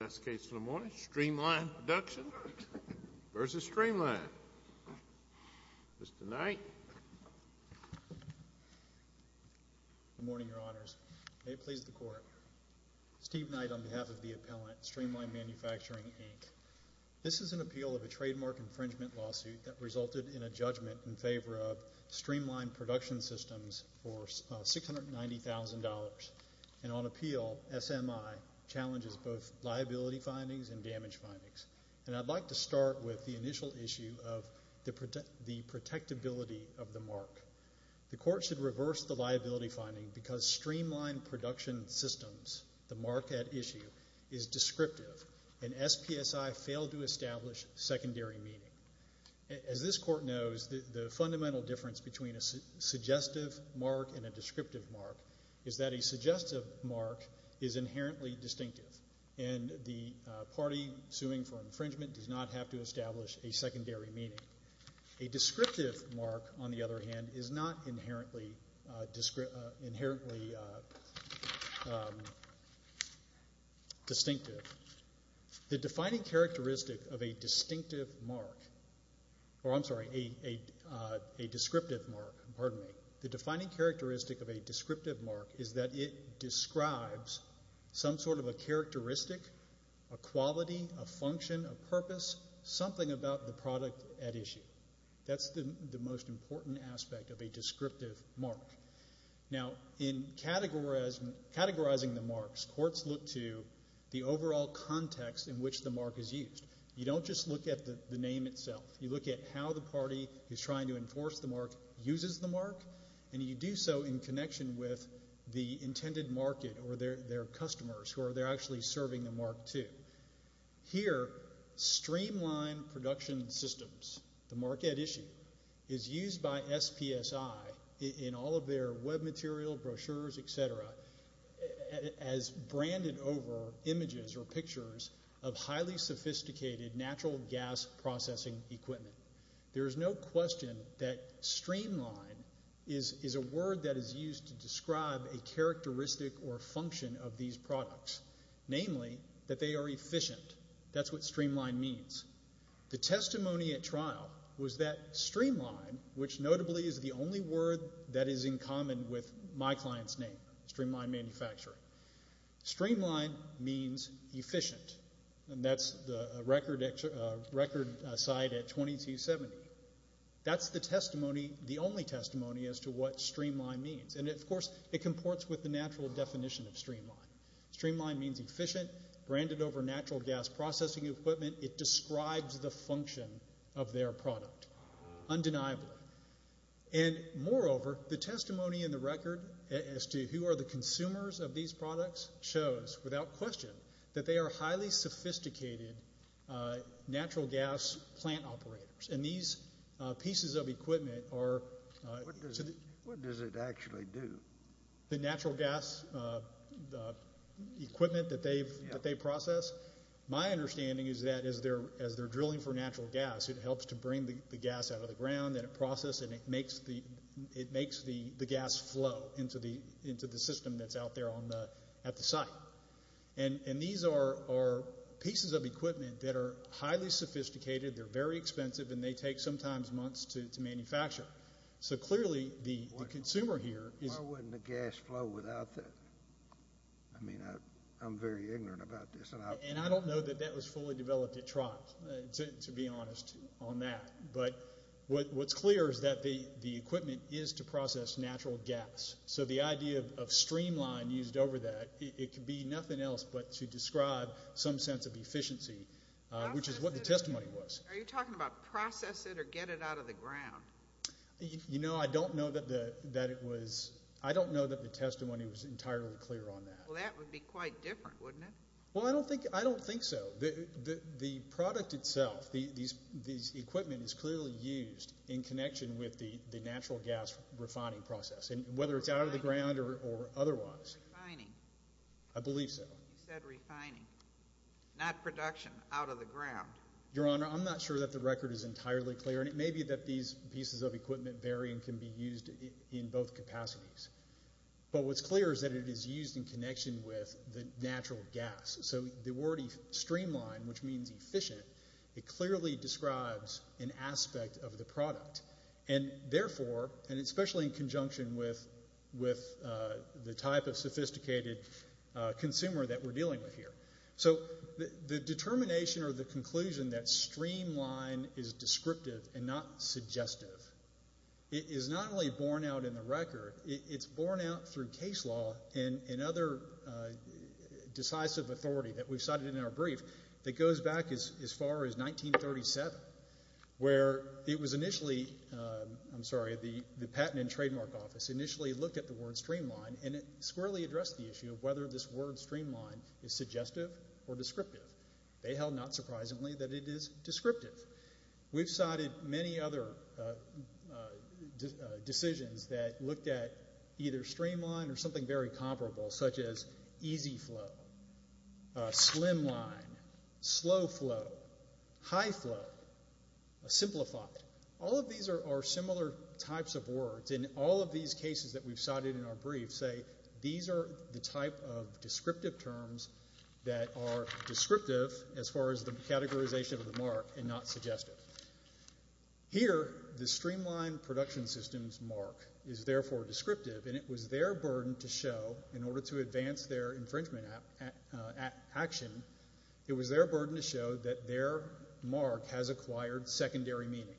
This is an appeal of a trademark infringement lawsuit that resulted in a judgment in favor of Streamline Production Systems for $690,000, and on appeal, SMI challenges both liability findings and damage findings. I'd like to start with the initial issue of the protectability of the mark. The Court should reverse the liability finding because Streamline Production Systems, the mark at issue, is descriptive, and SPSI failed to establish secondary meaning. As this Court knows, the fundamental difference between a suggestive mark and a descriptive mark is that a suggestive mark is inherently distinctive, and the party suing for infringement does not have to establish a secondary meaning. A descriptive mark, on the other hand, is not inherently distinctive. The defining characteristic of a descriptive mark is that it describes some sort of a characteristic, a quality, a function, a purpose, something about the product at issue. That's the most important aspect of a descriptive mark. Now, in categorizing the marks, courts look to the overall context in which the mark is used. You don't just look at the name itself. You look at how the party is trying to enforce the mark, uses the mark, and you do so in connection with the intended market or their Streamline Production Systems, the mark at issue, is used by SPSI in all of their web material, brochures, et cetera, as branded over images or pictures of highly sophisticated natural gas processing equipment. There is no question that Streamline is a word that is used to describe a characteristic or function of these products, namely that they are efficient. That's what Streamline means. The testimony at trial was that Streamline, which notably is the only word that is in common with my client's name, Streamline Manufacturing, Streamline means efficient, and that's the record site at 2270. That's the testimony, the only testimony, as to what Streamline means. And, of course, it comports with the natural gas processing equipment. It describes the function of their product, undeniably. And, moreover, the testimony in the record as to who are the consumers of these products shows, without question, that they are highly sophisticated natural gas plant operators. And these pieces of equipment are... What does it actually do? The natural gas equipment that they process, my understanding is that as they're drilling for natural gas, it helps to bring the gas out of the ground, and it processes it, and it makes the gas flow into the system that's out there at the site. And these are pieces of equipment that are highly sophisticated, they're very expensive, and they take sometimes months to manufacture. So, clearly, the consumer here is... Why wouldn't the gas flow without that? I mean, I'm very ignorant about this. And I don't know that that was fully developed at trial, to be honest, on that. But what's clear is that the equipment is to process natural gas. So the idea of Streamline used over that, it could be nothing else but to describe some sense of efficiency, which is what the testimony was. Are you talking about process it or get it out of the ground? You know, I don't know that the testimony was entirely clear on that. Well, that would be quite different, wouldn't it? Well, I don't think so. The product itself, these equipment is clearly used in connection with the natural gas refining process, whether it's out of the ground or otherwise. Refining. I believe so. You said refining, not production out of the ground. Your Honor, I'm not sure that the record is entirely clear. And it may be that these pieces of equipment vary and can be used in both capacities. But what's clear is that it is used in connection with the natural gas. So the word Streamline, which means efficient, it clearly describes an aspect of the product. And therefore, and especially in conjunction with the type of sophisticated consumer that we're dealing with here. So the determination or the conclusion that Streamline is descriptive and not suggestive is not only born out in the record, it's born out through case law and other decisive authority that we've cited in our brief that goes back as far as 1937, where it was initially, I'm sorry, the Patent and Trademark Office initially looked at the word Streamline and it squarely addressed the issue of whether this word Streamline is suggestive or descriptive. They held not surprisingly that it is descriptive. We've cited many other decisions that looked at either Streamline or something very comparable, such as easy flow, slim line, slow flow, high flow, simplified. All of these are similar types of words. And all of these cases that we've cited in our brief say these are the type of descriptive terms that are descriptive as far as the categorization of the mark and not suggestive. Here, the Streamline production system's mark is therefore descriptive, and it was their burden to show in order to advance their infringement action, it was their burden to show that their mark has acquired secondary meaning.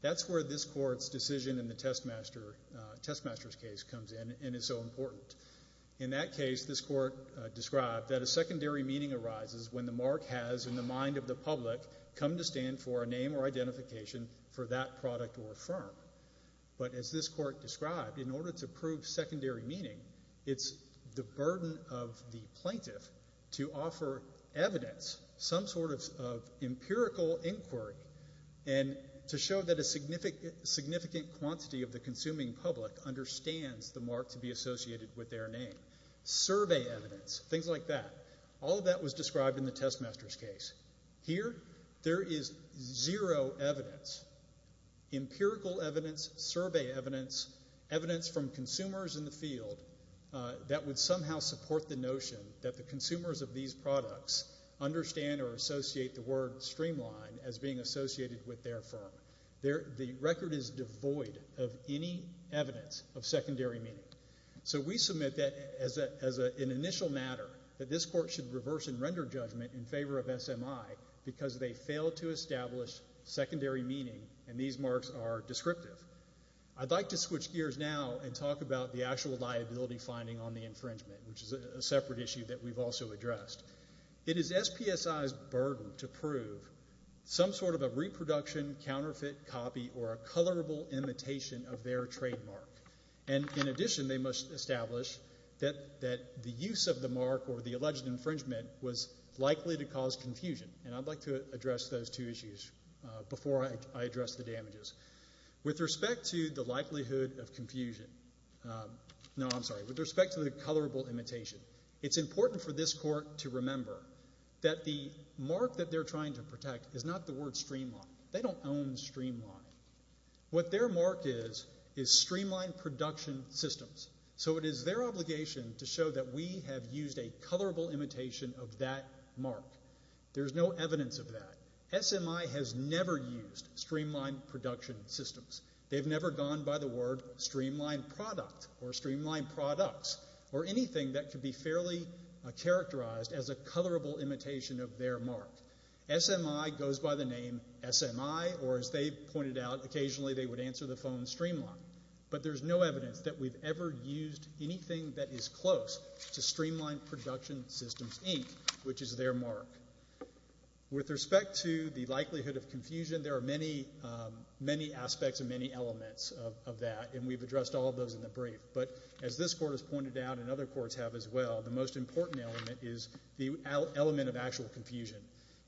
That's where this court's decision in the Testmaster's case comes in and is so important. In that case, this court described that a secondary meaning arises when the mark has, in the mind of the public, come to stand for a name or identification for that product or firm. But as this court described, in order to prove secondary meaning, it's the burden of the plaintiff to offer evidence, some sort of empirical inquiry, and to show that a significant quantity of the consuming public understands the mark to be associated with their name. Survey evidence, things like that. All of that was described in the Testmaster's case. Here, there is zero evidence, empirical evidence, survey evidence, evidence from consumers in the field that would somehow support the notion that the consumers of these products understand or associate the word Streamline as being associated with their firm. The record is devoid of any evidence of secondary meaning. So we submit that as an initial matter, that this court should reverse and render judgment in favor of SMI because they failed to establish secondary meaning, and these marks are descriptive. I'd like to switch gears now and talk about the actual liability finding on the infringement, which is a separate issue that we've also addressed. It is SPSI's burden to prove some sort of a reproduction, counterfeit copy, or a colorable imitation of their trademark. And in addition, they must establish that the use of the mark or the alleged infringement was likely to cause confusion, and I'd like to address those two issues before I address the damages. With respect to the likelihood of confusion, no, I'm sorry. With respect to the colorable imitation, it's important for this court to remember that the mark that they're trying to protect is not the word Streamline. They don't own Streamline. What their mark is is Streamline Production Systems. So it is their obligation to show that we have used a colorable imitation of that mark. There's no evidence of that. SMI has never used Streamline Production Systems. They've never gone by the word Streamline Product or Streamline Products or anything that could be fairly characterized as a colorable imitation of their mark. SMI goes by the name SMI, or as they've pointed out, occasionally they would answer the phone Streamline. But there's no evidence that we've ever used anything that is close to Streamline Production Systems, Inc., which is their mark. With respect to the likelihood of confusion, there are many aspects and many elements of that, and we've addressed all of those in the brief. But as this court has pointed out and other courts have as well, the most important element is the element of actual confusion.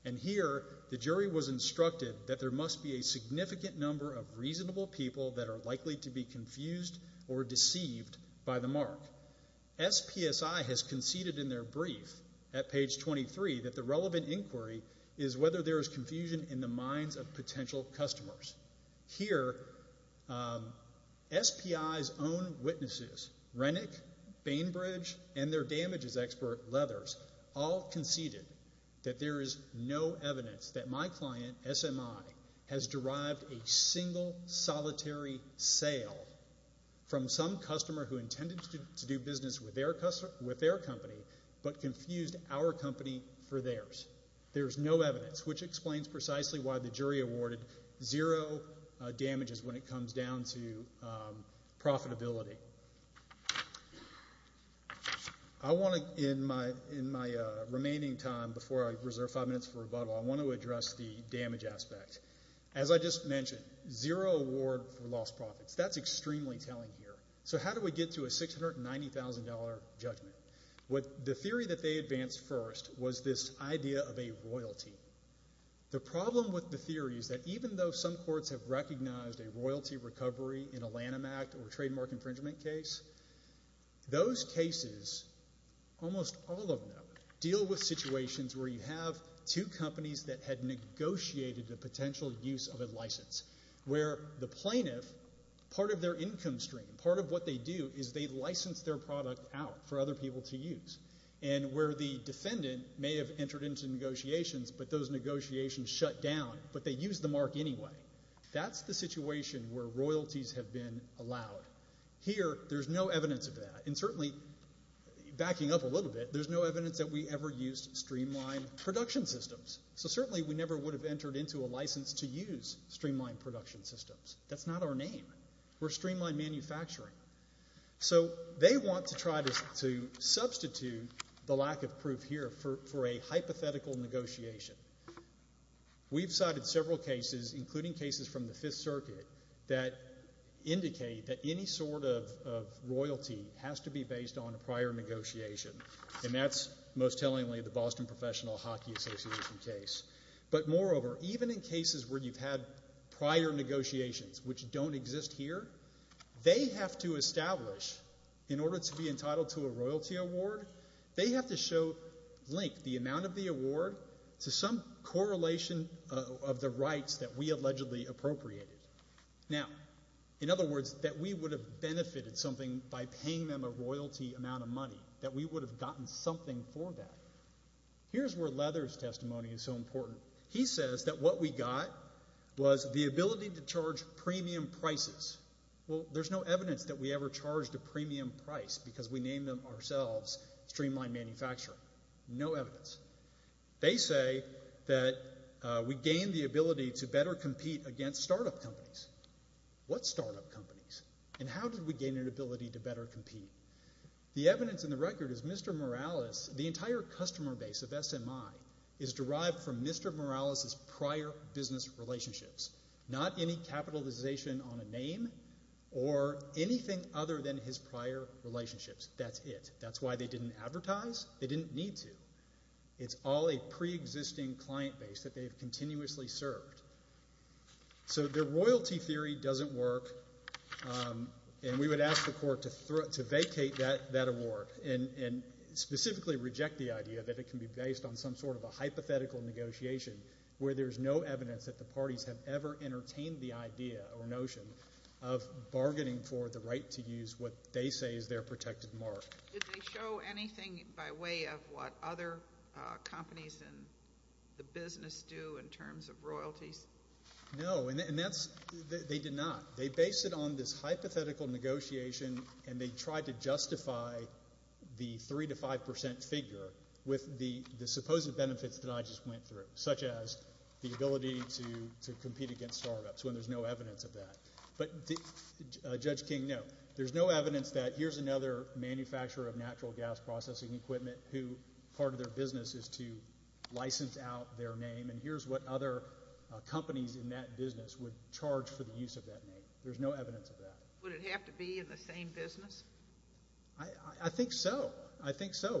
And here the jury was instructed that there must be a significant number of reasonable people that are likely to be confused or deceived by the mark. SPSI has conceded in their brief at page 23 that the relevant inquiry is whether there is confusion in the minds of potential customers. Here SPI's own witnesses, Renick, Bainbridge, and their damages expert, Leathers, all conceded that there is no evidence that my client, SMI, has derived a single, solitary sale from some customer who intended to do business with their company but confused our company for theirs. There's no evidence, which explains precisely why the jury awarded zero damages when it comes down to profitability. I want to, in my remaining time, before I reserve five minutes for rebuttal, I want to address the damage aspect. As I just mentioned, zero award for lost profits. That's extremely telling here. So how do we get to a $690,000 judgment? The theory that they advanced first was this idea of a royalty. The problem with the theory is that even though some courts have recognized a royalty recovery in a Lanham Act or trademark infringement case, those cases, almost all of them, deal with situations where you have two companies that had negotiated the potential use of a license where the plaintiff, part of their income stream, part of what they do is they license their product out for other people to use, and where the defendant may have entered into negotiations but those negotiations shut down, but they used the mark anyway. That's the situation where royalties have been allowed. Here there's no evidence of that, and certainly, backing up a little bit, there's no evidence that we ever used streamlined production systems. So certainly we never would have entered into a license to use streamlined production systems. That's not our name. We're streamlined manufacturing. So they want to try to substitute the lack of proof here for a hypothetical negotiation. We've cited several cases, including cases from the Fifth Circuit, that indicate that any sort of royalty has to be based on a prior negotiation, and that's most tellingly the Boston Professional Hockey Association case. But moreover, even in cases where you've had prior negotiations, which don't exist here, they have to establish, in order to be entitled to a royalty award, they have to show, blink, the amount of the award to some correlation of the rights that we allegedly appropriated. Now, in other words, that we would have benefited something by paying them a royalty amount of money, that we would have gotten something for that. Here's where Leather's testimony is so important. He says that what we got was the ability to charge premium prices. Well, there's no evidence that we ever charged a premium price because we named them ourselves streamlined manufacturing. No evidence. They say that we gained the ability to better compete against startup companies. What startup companies? And how did we gain an ability to better compete? The evidence in the record is Mr. Morales, the entire customer base of SMI, is derived from Mr. Morales's prior business relationships, not any capitalization on a name or anything other than his prior relationships. That's it. That's why they didn't advertise. They didn't need to. It's all a preexisting client base that they've continuously served. So their royalty theory doesn't work, and we would ask the court to vacate that award and specifically reject the idea that it can be based on some sort of a hypothetical negotiation where there's no evidence that the parties have ever entertained the idea or notion of bargaining for the right to use what they say is their protected mark. Did they show anything by way of what other companies in the business do in terms of royalties? No, and that's they did not. They based it on this hypothetical negotiation, and they tried to justify the 3 to 5 percent figure with the supposed benefits that I just went through, such as the ability to compete against startups when there's no evidence of that. But Judge King, no. There's no evidence that here's another manufacturer of natural gas processing equipment who part of their business is to license out their name, and here's what other companies in that business would charge for the use of that name. There's no evidence of that. Would it have to be in the same business? I think so. I think so.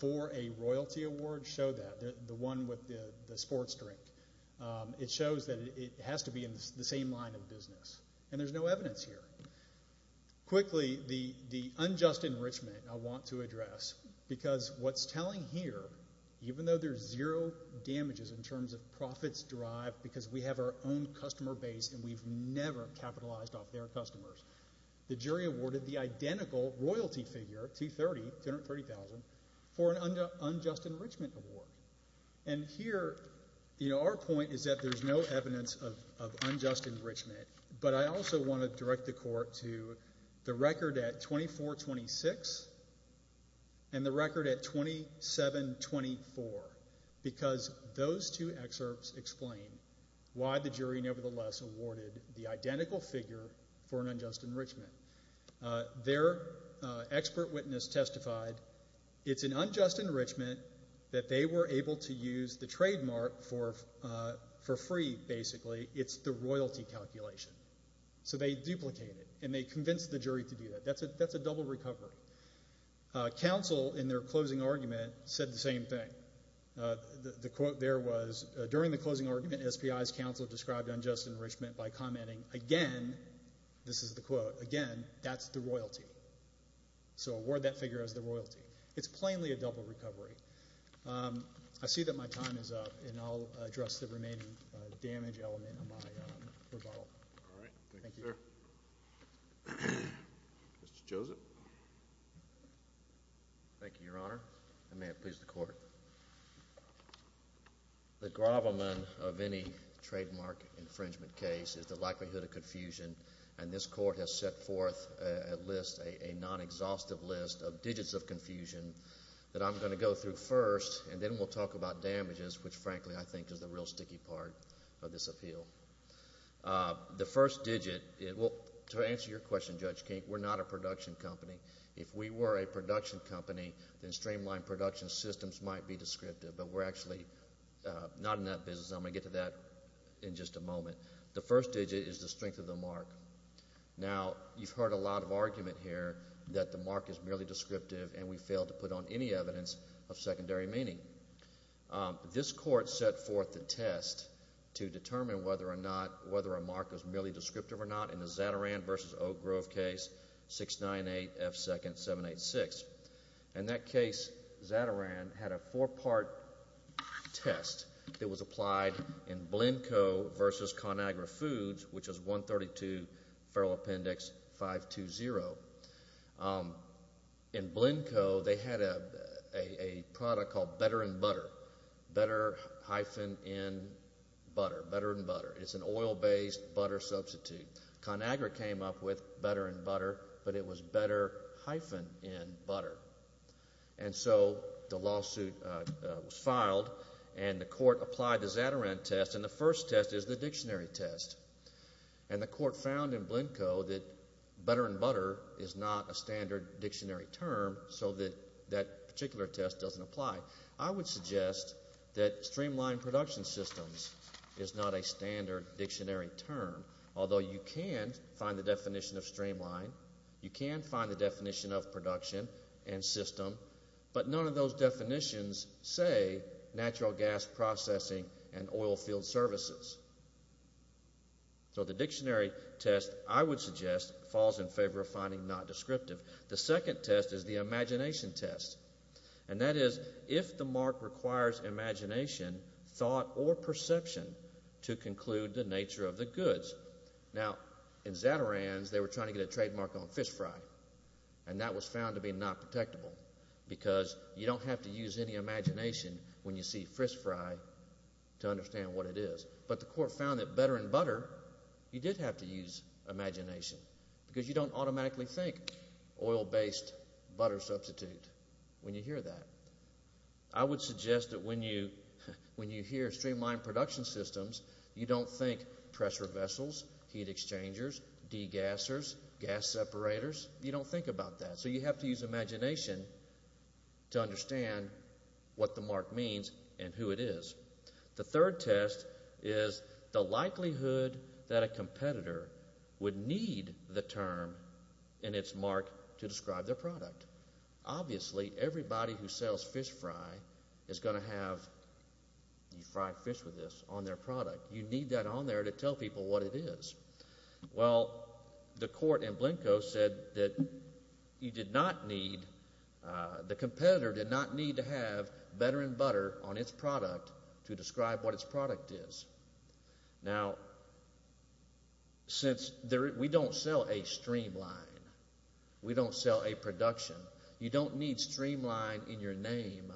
For a royalty award, show that, the one with the sports drink. It shows that it has to be in the same line of business, and there's no evidence here. Quickly, the unjust enrichment I want to address, because what's telling here, even though there's zero damages in terms of profits derived because we have our own customer base and we've never capitalized off their customers, the jury awarded the identical royalty figure, 230,000, for an unjust enrichment award. And here, our point is that there's no evidence of unjust enrichment, but I also want to direct the court to the record at 2426 and the record at 2724, because those two excerpts explain why the jury, nevertheless, awarded the identical figure for an unjust enrichment. Their expert witness testified it's an unjust enrichment that they were able to use the trademark for free, basically. It's the royalty calculation. So they duplicated it, and they convinced the jury to do that. That's a double recovery. Counsel, in their closing argument, said the same thing. The quote there was, during the closing argument, SPI's counsel described unjust enrichment by commenting, again, this is the quote, again, that's the royalty. So award that figure as the royalty. It's plainly a double recovery. I see that my time is up, and I'll address the remaining damage element of my rebuttal. All right. Thank you, sir. Mr. Joseph. Thank you, Your Honor, and may it please the court. The gravamen of any trademark infringement case is the likelihood of confusion, and this court has set forth a list, a non-exhaustive list of digits of confusion that I'm going to go through first, and then we'll talk about damages, which, frankly, I think is the real sticky part of this appeal. The first digit, to answer your question, Judge Kink, we're not a production company. If we were a production company, then streamlined production systems might be descriptive, but we're actually not in that business, and I'm going to get to that in just a moment. The first digit is the strength of the mark. Now, you've heard a lot of argument here that the mark is merely descriptive, and we fail to put on any evidence of secondary meaning. This court set forth a test to determine whether or not a mark is merely descriptive or not in the Zatarain v. Oak Grove case, 698 F. 2nd. 786. In that case, Zatarain had a four-part test that was applied in Blenko v. ConAgra Foods, which is 132 Federal Appendix 520. In Blenko, they had a product called Better in Butter, Better hyphen in Butter, Better in Butter. It's an oil-based butter substitute. ConAgra came up with Better in Butter, but it was Better hyphen in Butter. And so the lawsuit was filed, and the court applied the Zatarain test, and the first test is the dictionary test. And the court found in Blenko that Better in Butter is not a standard dictionary term so that that particular test doesn't apply. I would suggest that streamlined production systems is not a standard dictionary term, although you can find the definition of streamlined. You can find the definition of production and system, but none of those definitions say natural gas processing and oil field services. So the dictionary test, I would suggest, falls in favor of finding not descriptive. The second test is the imagination test, and that is if the mark requires imagination, thought, or perception to conclude the nature of the goods. Now, in Zatarain's, they were trying to get a trademark on fish fry, and that was found to be not protectable because you don't have to use any imagination when you see fish fry to understand what it is. But the court found that Better in Butter, you did have to use imagination because you don't automatically think oil-based butter substitute when you hear that. I would suggest that when you hear streamlined production systems, you don't think pressure vessels, heat exchangers, degassers, gas separators. You don't think about that. So you have to use imagination to understand what the mark means and who it is. The third test is the likelihood that a competitor would need the term and its mark to describe their product. Obviously, everybody who sells fish fry is going to have fried fish with this on their product. You need that on there to tell people what it is. Well, the court in Blenko said that you did not need, the competitor did not need to have Better in Butter on its product to describe what its product is. Now, since we don't sell a streamline, we don't sell a production, you don't need streamline in your name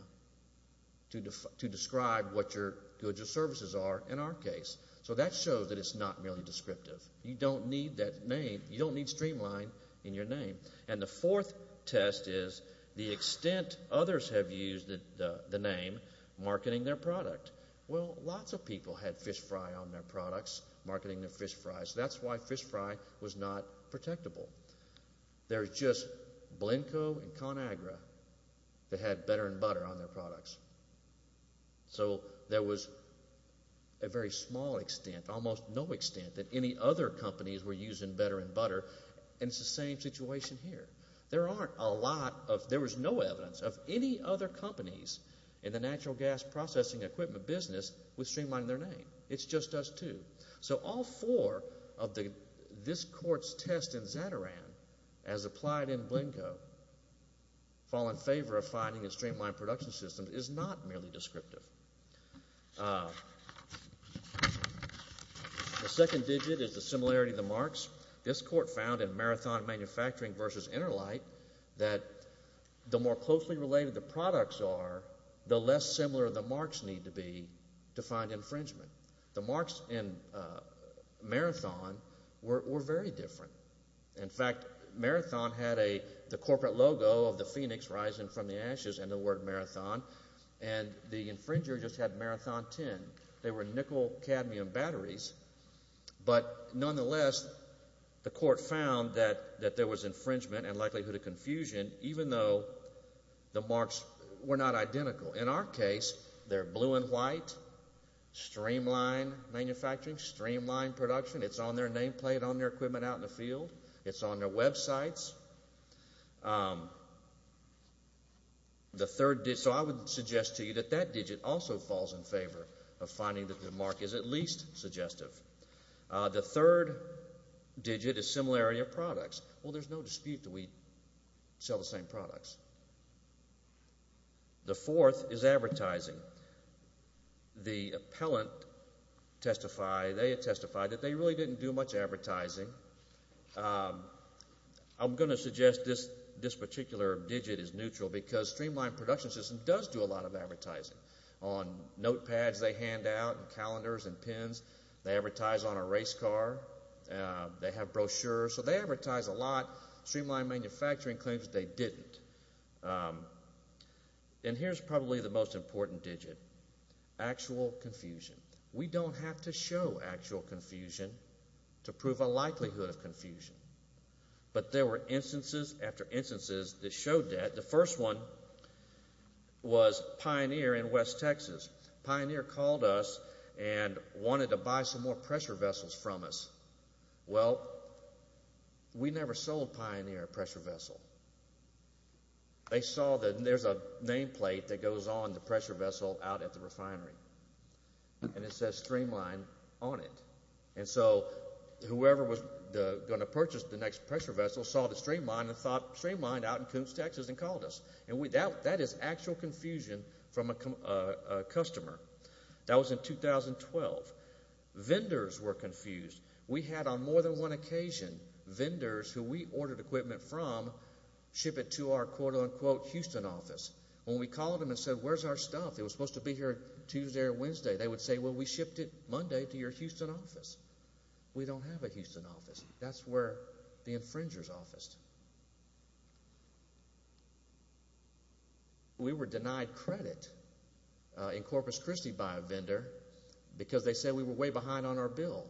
to describe what your goods or services are in our case. So that shows that it's not really descriptive. You don't need that name. You don't need streamline in your name. And the fourth test is the extent others have used the name marketing their product. Well, lots of people had fish fry on their products, marketing their fish fries. That's why fish fry was not protectable. There's just Blenko and ConAgra that had Better in Butter on their products. So there was a very small extent, almost no extent, that any other companies were using Better in Butter. And it's the same situation here. There aren't a lot of, there was no evidence of any other companies in the natural gas processing equipment business with streamline in their name. It's just us two. So all four of this court's tests in Zatarain as applied in Blenko fall in favor of finding a streamlined production system is not merely descriptive. The second digit is the similarity of the marks. This court found in Marathon Manufacturing v. Interlite that the more closely related the products are, the less similar the marks need to be to find infringement. The marks in Marathon were very different. In fact, Marathon had the corporate logo of the phoenix rising from the ashes and the word Marathon, and the infringer just had Marathon 10. They were nickel cadmium batteries. But nonetheless, the court found that there was infringement and likelihood of confusion even though the marks were not identical. In our case, they're blue and white, streamline manufacturing, streamline production. It's on their nameplate on their equipment out in the field. It's on their websites. So I would suggest to you that that digit also falls in favor of finding that the mark is at least suggestive. The third digit is similarity of products. Well, there's no dispute that we sell the same products. The fourth is advertising. The appellant testified, they testified that they really didn't do much advertising. I'm going to suggest this particular digit is neutral because streamlined production system does do a lot of advertising. On notepads they hand out and calendars and pens. They advertise on a race car. They have brochures. So they advertise a lot. Streamline manufacturing claims they didn't. And here's probably the most important digit, actual confusion. We don't have to show actual confusion to prove a likelihood of confusion. But there were instances after instances that showed that. The first one was Pioneer in West Texas. Pioneer called us and wanted to buy some more pressure vessels from us. Well, we never sold Pioneer a pressure vessel. They saw that there's a nameplate that goes on the pressure vessel out at the refinery. And it says streamline on it. And so whoever was going to purchase the next pressure vessel saw the streamline and streamlined out in Coombs, Texas and called us. That is actual confusion from a customer. That was in 2012. Vendors were confused. We had on more than one occasion vendors who we ordered equipment from ship it to our, quote, unquote, Houston office. When we called them and said, Where's our stuff? It was supposed to be here Tuesday or Wednesday. They would say, Well, we shipped it Monday to your Houston office. We don't have a Houston office. That's where the infringer's office. We were denied credit in Corpus Christi by a vendor because they said we were way behind on our bill.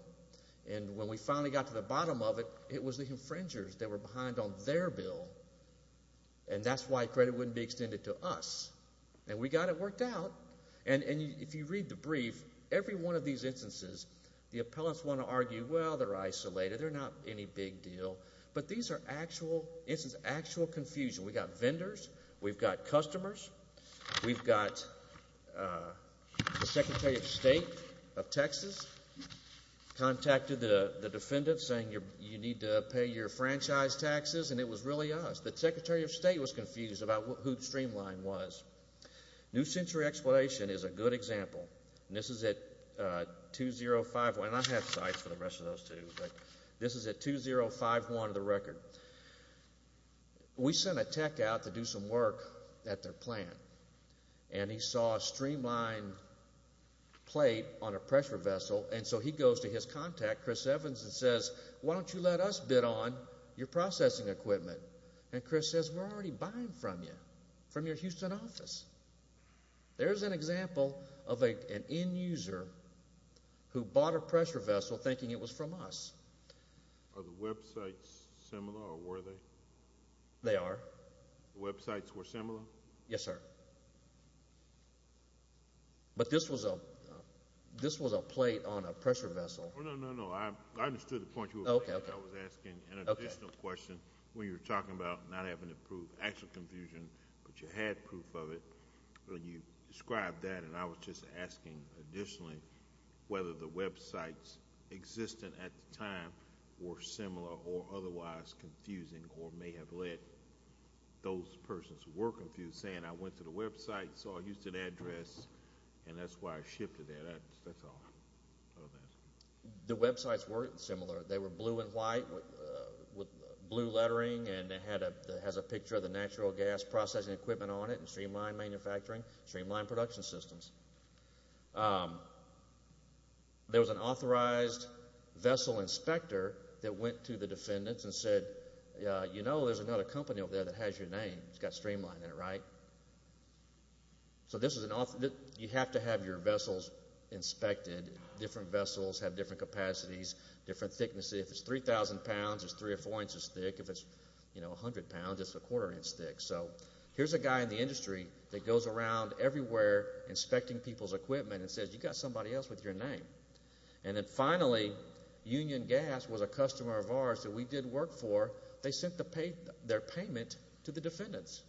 And when we finally got to the bottom of it, it was the infringers that were behind on their bill. And that's why credit wouldn't be extended to us. And we got it worked out. And if you read the brief, every one of these instances the appellants want to argue, Well, they're isolated. They're not any big deal. But these are actual, this is actual confusion. We've got vendors. We've got customers. We've got the Secretary of State of Texas contacted the defendant saying, You need to pay your franchise taxes. And it was really us. The Secretary of State was confused about who Streamline was. New Century Exploration is a good example. And this is at 2051. And I have sites for the rest of those, too. But this is at 2051 of the record. We sent a tech out to do some work at their plant. And he saw a Streamline plate on a pressure vessel. And so he goes to his contact, Chris Evans, and says, Why don't you let us bid on your processing equipment? And Chris says, We're already buying from you, from your Houston office. There's an example of an end user who bought a pressure vessel thinking it was from us. Are the websites similar, or were they? They are. The websites were similar? Yes, sir. But this was a plate on a pressure vessel. No, no, no, no. I understood the point you were making. I was asking an additional question. When you were talking about not having to prove actual confusion, but you had proof of it, when you described that, and I was just asking additionally whether the websites existing at the time were similar or otherwise confusing or may have led those persons who were confused saying, I went to the website, saw a Houston address, and that's why I shifted that. That's all. The websites weren't similar. They were blue and white with blue lettering, and it has a picture of the natural gas processing equipment on it and streamlined manufacturing, streamlined production systems. There was an authorized vessel inspector that went to the defendants and said, You know, there's another company over there that has your name. It's got streamline in it, right? So you have to have your vessels inspected. Different vessels have different capacities, different thicknesses. If it's 3,000 pounds, it's three or four inches thick. If it's 100 pounds, it's a quarter inch thick. So here's a guy in the industry that goes around everywhere inspecting people's equipment and says, You've got somebody else with your name. And then finally, Union Gas was a customer of ours that we did work for. They sent their payment to the defendants.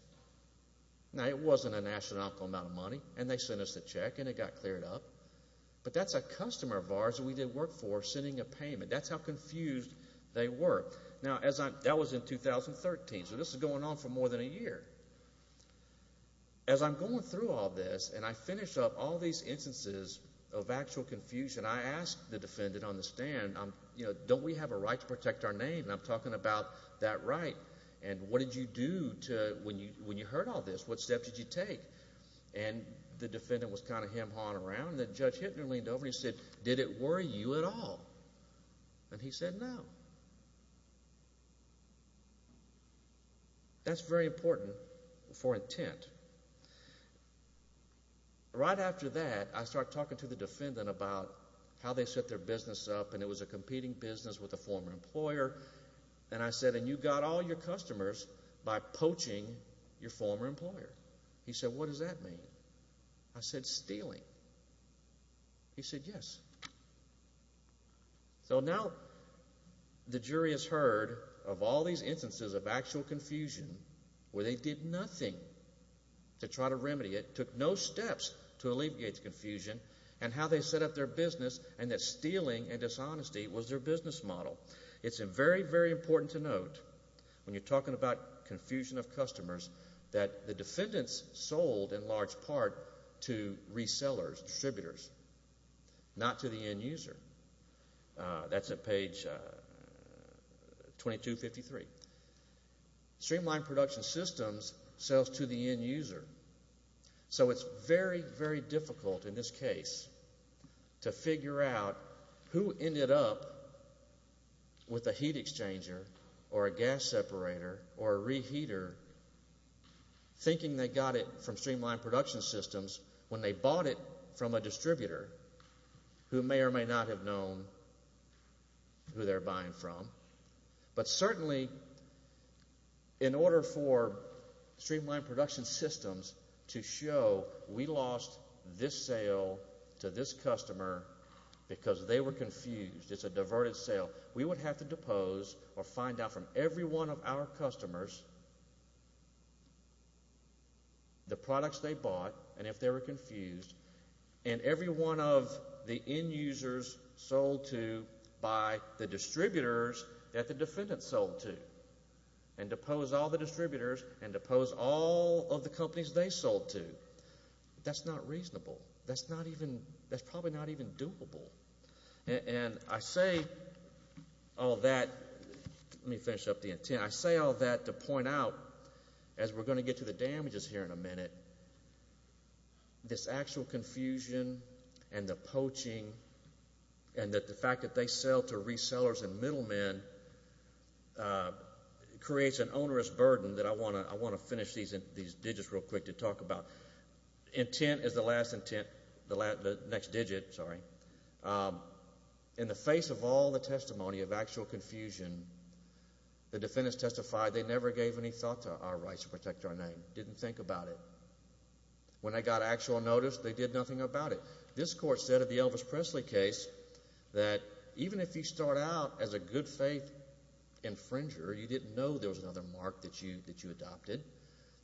Now, it wasn't an astronomical amount of money, and they sent us a check, and it got cleared up. But that's a customer of ours that we did work for sending a payment. That's how confused they were. Now, that was in 2013, so this is going on for more than a year. As I'm going through all this and I finish up all these instances of actual confusion, I ask the defendant on the stand, Don't we have a right to protect our name? And I'm talking about that right. And what did you do when you heard all this? What steps did you take? And the defendant was kind of hem-hawing around, and then Judge Hittner leaned over and he said, Did it worry you at all? And he said, No. That's very important for intent. Right after that, I start talking to the defendant about how they set their business up, and it was a competing business with a former employer. And I said, And you got all your customers by poaching your former employer. He said, What does that mean? I said, Stealing. He said, Yes. So now the jury has heard of all these instances of actual confusion where they did nothing to try to remedy it, took no steps to alleviate the confusion, and how they set up their business and that stealing and dishonesty was their business model. It's very, very important to note when you're talking about confusion of customers that the defendants sold in large part to resellers, distributors, not to the end user. That's at page 2253. Streamlined production systems sells to the end user. So it's very, very difficult in this case to figure out who ended up with a heat exchanger or a gas separator or a reheater thinking they got it from streamlined production systems when they bought it from a distributor who may or may not have known who they're buying from. But certainly in order for streamlined production systems to show we lost this sale to this customer because they were confused, it's a diverted sale, we would have to depose or find out from every one of our customers the products they bought and if they were confused and every one of the end users sold to by the distributors that the defendants sold to and depose all the distributors and depose all of the companies they sold to. That's not reasonable. That's probably not even doable. And I say all that, let me finish up the intent. I say all that to point out as we're going to get to the damages here in a minute, this actual confusion and the poaching and the fact that they sell to resellers and middlemen creates an onerous burden that I want to finish these digits real quick to talk about. Intent is the last intent, the next digit, sorry. In the face of all the testimony of actual confusion, the defendants testified they never gave any thought to our rights to protect our name, didn't think about it. When they got actual notice, they did nothing about it. This court said in the Elvis Presley case that even if you start out as a good faith infringer, you didn't know there was another mark that you adopted,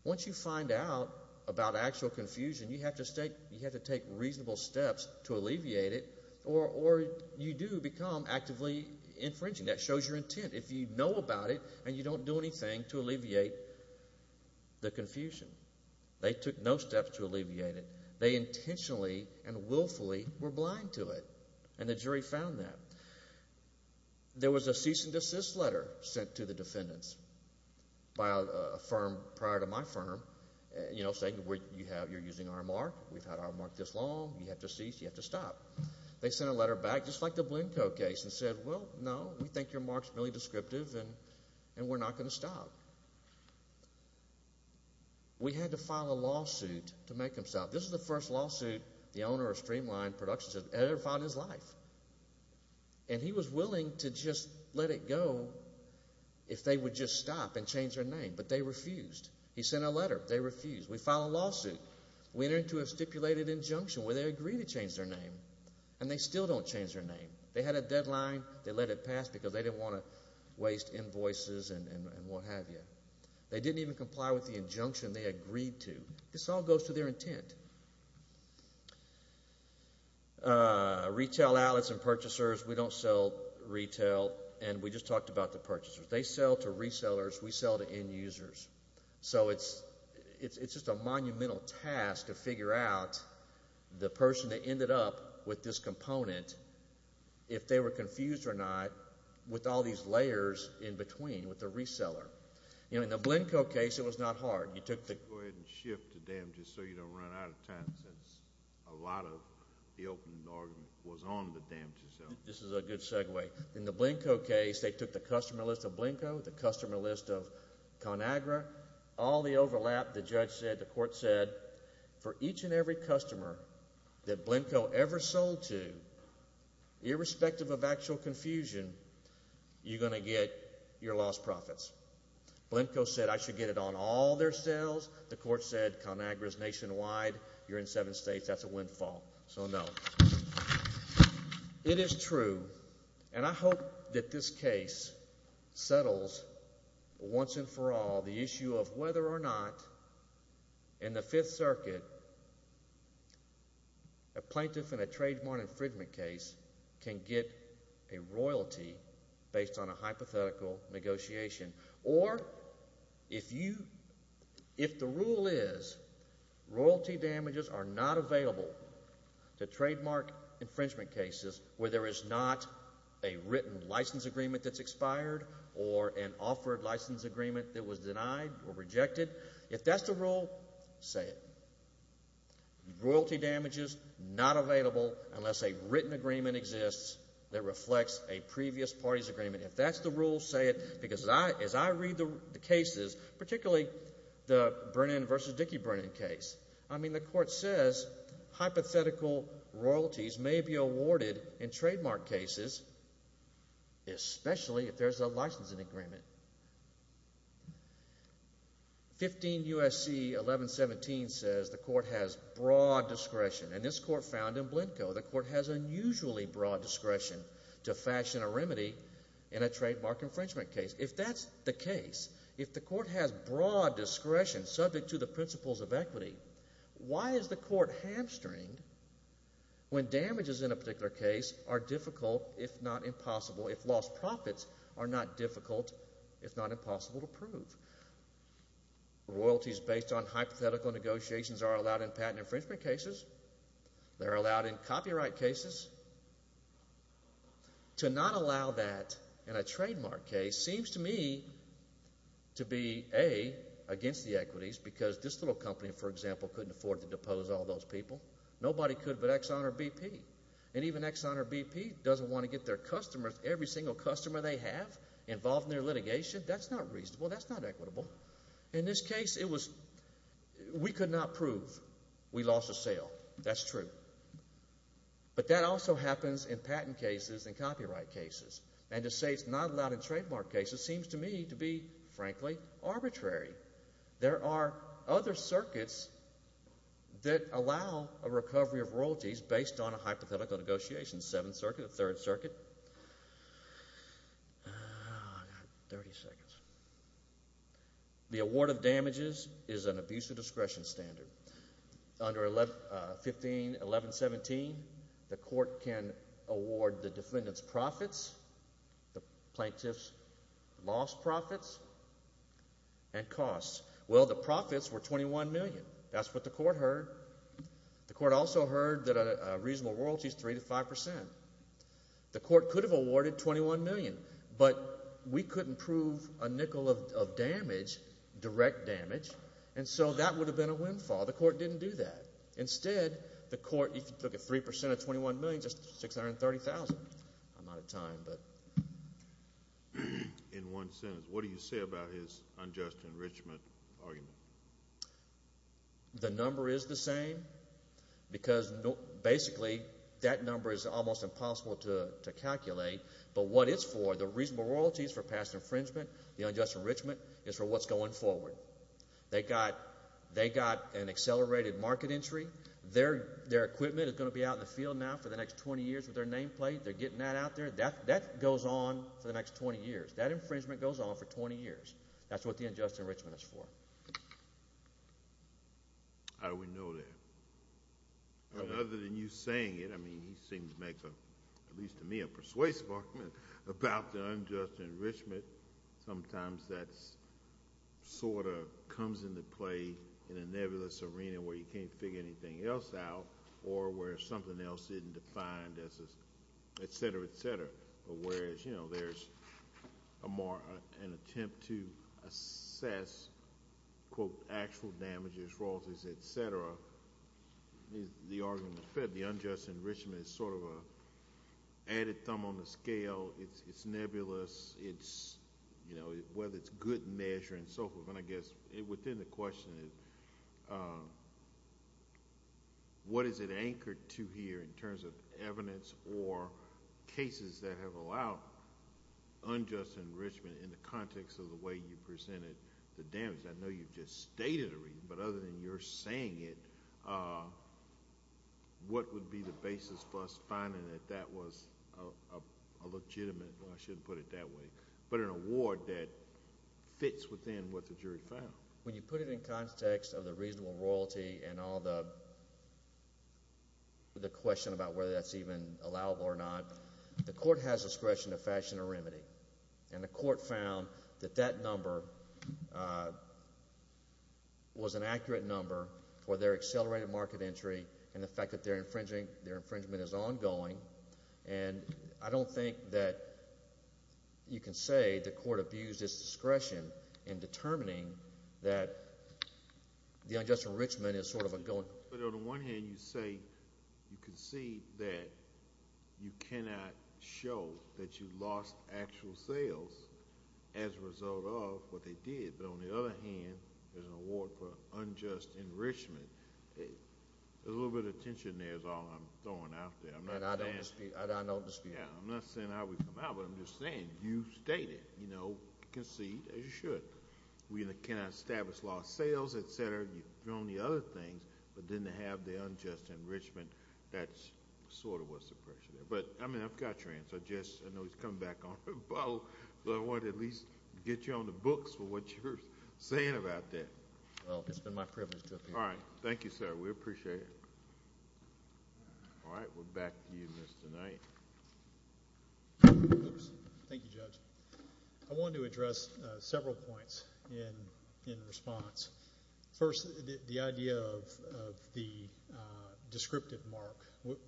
once you find out about actual confusion, you have to take reasonable steps to alleviate it or you do become actively infringing. That shows your intent. If you know about it and you don't do anything to alleviate the confusion. They took no steps to alleviate it. They intentionally and willfully were blind to it, and the jury found that. There was a cease and desist letter sent to the defendants by a firm prior to my firm, saying you're using our mark, we've had our mark this long, you have to cease, you have to stop. They sent a letter back just like the Blanco case and said, well, no, we think your mark's really descriptive and we're not going to stop. We had to file a lawsuit to make them stop. This is the first lawsuit the owner of Streamline Productions has ever filed in his life, and he was willing to just let it go if they would just stop and change their name, but they refused. He sent a letter. They refused. We filed a lawsuit. We entered into a stipulated injunction where they agreed to change their name, and they still don't change their name. They had a deadline. They let it pass because they didn't want to waste invoices and what have you. They didn't even comply with the injunction they agreed to. This all goes to their intent. Retail outlets and purchasers, we don't sell retail, and we just talked about the purchasers. They sell to resellers. We sell to end users. So it's just a monumental task to figure out the person that ended up with this component, if they were confused or not, with all these layers in between with the reseller. In the Blanco case, it was not hard. Go ahead and shift to damages so you don't run out of time since a lot of the open argument was on the damages. This is a good segue. In the Blanco case, they took the customer list of Blanco, the customer list of ConAgra, all the overlap. The judge said, the court said, for each and every customer that Blanco ever sold to, irrespective of actual confusion, you're going to get your lost profits. Blanco said, I should get it on all their sales. The court said, ConAgra is nationwide. You're in seven states. That's a windfall. So no. It is true, and I hope that this case settles once and for all the issue of whether or not, in the Fifth Circuit, a plaintiff in a trademark infringement case can get a royalty based on a hypothetical negotiation. Or, if the rule is, royalty damages are not available to trademark infringement cases where there is not a written license agreement that's expired or an offered license agreement that was denied or rejected, if that's the rule, say it. Royalty damages not available unless a written agreement exists that reflects a previous party's agreement. If that's the rule, say it. Because as I read the cases, particularly the Brennan v. Dickey-Brennan case, I mean, the court says hypothetical royalties may be awarded in trademark cases, especially if there's a licensing agreement. 15 U.S.C. 1117 says the court has broad discretion, and this court found in Blenko, the court has unusually broad discretion to fashion a remedy in a trademark infringement case. If that's the case, if the court has broad discretion subject to the principles of equity, why is the court hamstringed when damages in a particular case are difficult, if not impossible, if lost profits are not difficult, if not impossible, to prove? Royalties based on hypothetical negotiations are allowed in patent infringement cases. They're allowed in copyright cases. To not allow that in a trademark case seems to me to be, A, against the equities because this little company, for example, couldn't afford to depose all those people. Nobody could but Exxon or BP. And even Exxon or BP doesn't want to get their customers, every single customer they have, involved in their litigation. That's not reasonable. That's not equitable. In this case, it was we could not prove we lost a sale. That's true. But that also happens in patent cases and copyright cases. And to say it's not allowed in trademark cases seems to me to be, frankly, arbitrary. There are other circuits that allow a recovery of royalties based on a hypothetical negotiation. The Seventh Circuit, the Third Circuit. I've got 30 seconds. The award of damages is an abuse of discretion standard. Under 151117, the court can award the defendant's profits, the plaintiff's lost profits, and costs. Well, the profits were $21 million. That's what the court heard. The court also heard that a reasonable royalty is 3% to 5%. The court could have awarded $21 million. But we couldn't prove a nickel of damage, direct damage, and so that would have been a windfall. The court didn't do that. Instead, the court, if you took a 3% of $21 million, that's $630,000. I'm out of time. In one sentence, what do you say about his unjust enrichment argument? The number is the same because basically that number is almost impossible to calculate. But what it's for, the reasonable royalties for past infringement, the unjust enrichment, is for what's going forward. They got an accelerated market entry. Their equipment is going to be out in the field now for the next 20 years with their nameplate. They're getting that out there. That goes on for the next 20 years. That infringement goes on for 20 years. That's what the unjust enrichment is for. How do we know that? Other than you saying it, I mean, he seems to make, at least to me, a persuasive argument about the unjust enrichment. Sometimes that sort of comes into play in a nebulous arena where you can't figure anything else out or where something else isn't defined, et cetera, et cetera. Whereas there's an attempt to assess, quote, actual damages, royalties, et cetera. The argument is fair. The unjust enrichment is sort of an added thumb on the scale. It's nebulous. Whether it's good measure and so forth. I guess within the question is what is it anchored to here in terms of evidence or cases that have allowed unjust enrichment in the context of the way you presented the damage? I know you've just stated a reason, but other than your saying it, what would be the basis for us finding that that was a legitimate, well, I shouldn't put it that way, but an award that fits within what the jury found? When you put it in context of the reasonable royalty and all the question about whether that's even allowable or not, the court has discretion to fashion a remedy. And the court found that that number was an accurate number for their accelerated market entry and the fact that their infringement is ongoing. And I don't think that you can say the court abused its discretion in determining that the unjust enrichment is sort of ongoing. But on the one hand, you say you can see that you cannot show that you lost actual sales as a result of what they did. But on the other hand, there's an award for unjust enrichment. There's a little bit of tension there is all I'm throwing out there. And I don't dispute it. I'm not saying I would come out, but I'm just saying you stated, you know, concede as you should. We cannot establish lost sales, et cetera. You've thrown the other things, but didn't have the unjust enrichment. That sort of was the pressure there. But, I mean, I've got your answer. I know he's coming back on. But I wanted to at least get you on the books for what you're saying about that. Well, it's been my privilege to appear. All right. Thank you, sir. We appreciate it. All right. We're back to you, Mr. Knight. Thank you, Judge. I wanted to address several points in response. First, the idea of the descriptive mark.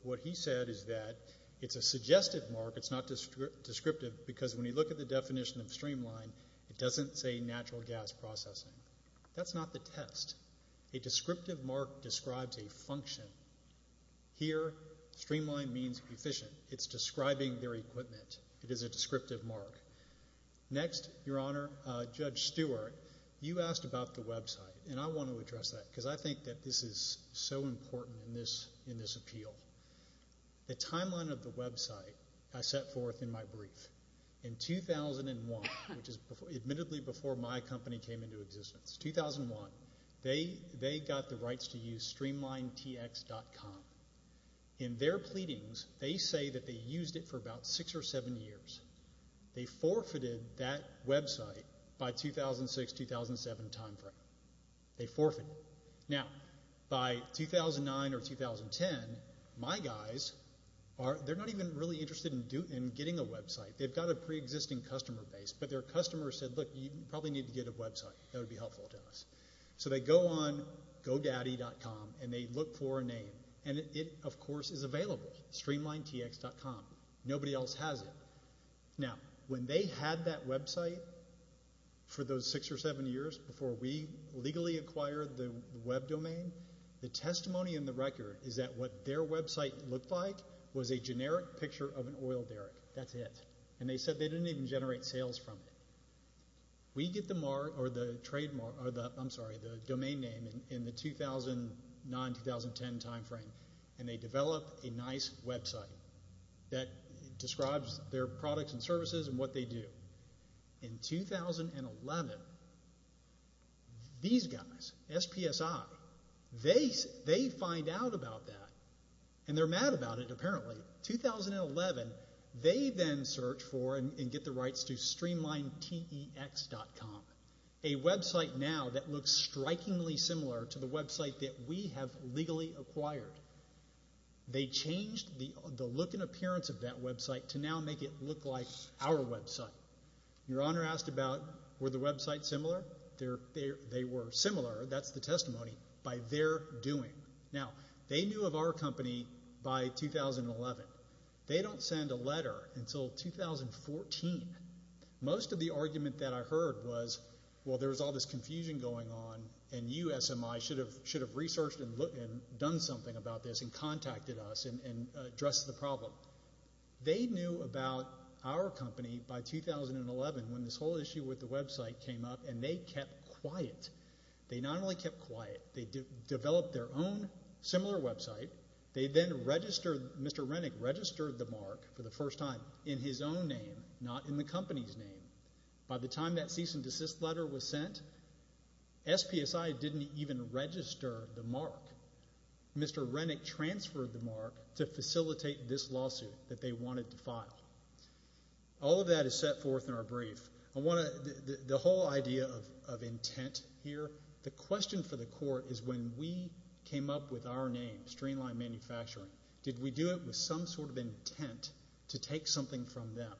What he said is that it's a suggestive mark. It's not descriptive because when you look at the definition of streamline, it doesn't say natural gas processing. That's not the test. A descriptive mark describes a function. Here, streamline means efficient. It's describing their equipment. It is a descriptive mark. Next, Your Honor, Judge Stewart, you asked about the website. And I want to address that because I think that this is so important in this appeal. The timeline of the website I set forth in my brief. In 2001, which is admittedly before my company came into existence, 2001, they got the rights to use StreamlineTX.com. In their pleadings, they say that they used it for about six or seven years. They forfeited that website by 2006, 2007 timeframe. They forfeited it. Now, by 2009 or 2010, my guys, they're not even really interested in getting a website. They've got a preexisting customer base, but their customer said, look, you probably need to get a website. That would be helpful to us. So they go on godaddy.com and they look for a name. And it, of course, is available, StreamlineTX.com. Nobody else has it. Now, when they had that website for those six or seven years before we legally acquired the web domain, the testimony in the record is that what their website looked like was a generic picture of an oil derrick. That's it. And they said they didn't even generate sales from it. We get the trademark or the domain name in the 2009, 2010 timeframe, and they develop a nice website that describes their products and services and what they do. In 2011, these guys, SPSI, they find out about that, and they're mad about it, apparently. 2011, they then search for and get the rights to StreamlineTEX.com, a website now that looks strikingly similar to the website that we have legally acquired. They changed the look and appearance of that website to now make it look like our website. Your Honor asked about were the websites similar. They were similar, that's the testimony, by their doing. Now, they knew of our company by 2011. They don't send a letter until 2014. Most of the argument that I heard was, well, there was all this confusion going on, and you, SMI, should have researched and done something about this and contacted us and addressed the problem. They knew about our company by 2011 when this whole issue with the website came up, and they kept quiet. They not only kept quiet, they developed their own similar website. They then registered, Mr. Rennick registered the mark for the first time in his own name, not in the company's name. By the time that cease and desist letter was sent, SPSI didn't even register the mark. Mr. Rennick transferred the mark to facilitate this lawsuit that they wanted to file. All of that is set forth in our brief. The whole idea of intent here, the question for the court is, when we came up with our name, Streamline Manufacturing, did we do it with some sort of intent to take something from them?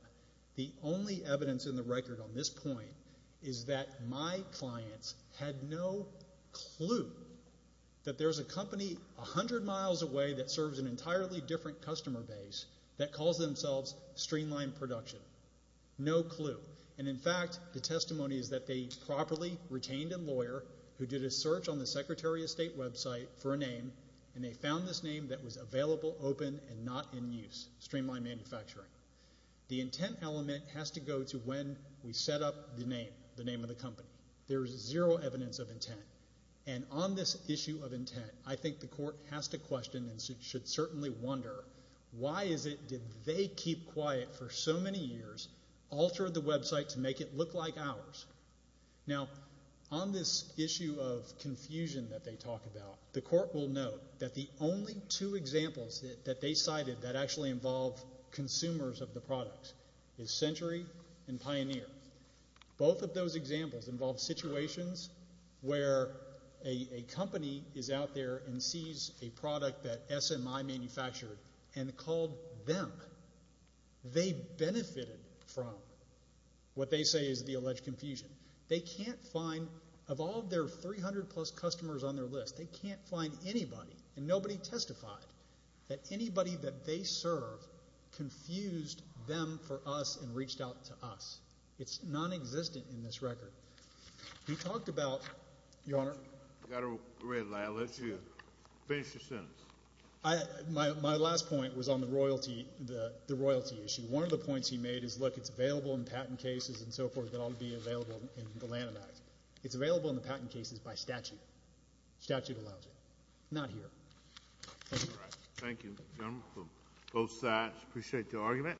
The only evidence in the record on this point is that my clients had no clue that there's a company 100 miles away that serves an entirely different customer base that calls themselves Streamline Production. No clue. In fact, the testimony is that they properly retained a lawyer who did a search on the Secretary of State website for a name, and they found this name that was available, open, and not in use, Streamline Manufacturing. The intent element has to go to when we set up the name, the name of the company. There is zero evidence of intent. On this issue of intent, I think the court has to question and should certainly wonder, why is it did they keep quiet for so many years, alter the website to make it look like ours? Now, on this issue of confusion that they talk about, the court will note that the only two examples that they cited that actually involve consumers of the products is Century and Pioneer. Both of those examples involve situations where a company is out there and sees a product that SMI manufactured and called them. They benefited from what they say is the alleged confusion. They can't find, of all their 300-plus customers on their list, they can't find anybody, and nobody testified, that anybody that they serve confused them for us and reached out to us. It's nonexistent in this record. He talked about, Your Honor. I've got a red light. I'll let you finish your sentence. My last point was on the royalty issue. One of the points he made is, look, it's available in patent cases and so forth that ought to be available in the Lanham Act. It's available in the patent cases by statute. Statute allows it. Not here. All right. Thank you, gentlemen, from both sides. Appreciate your argument.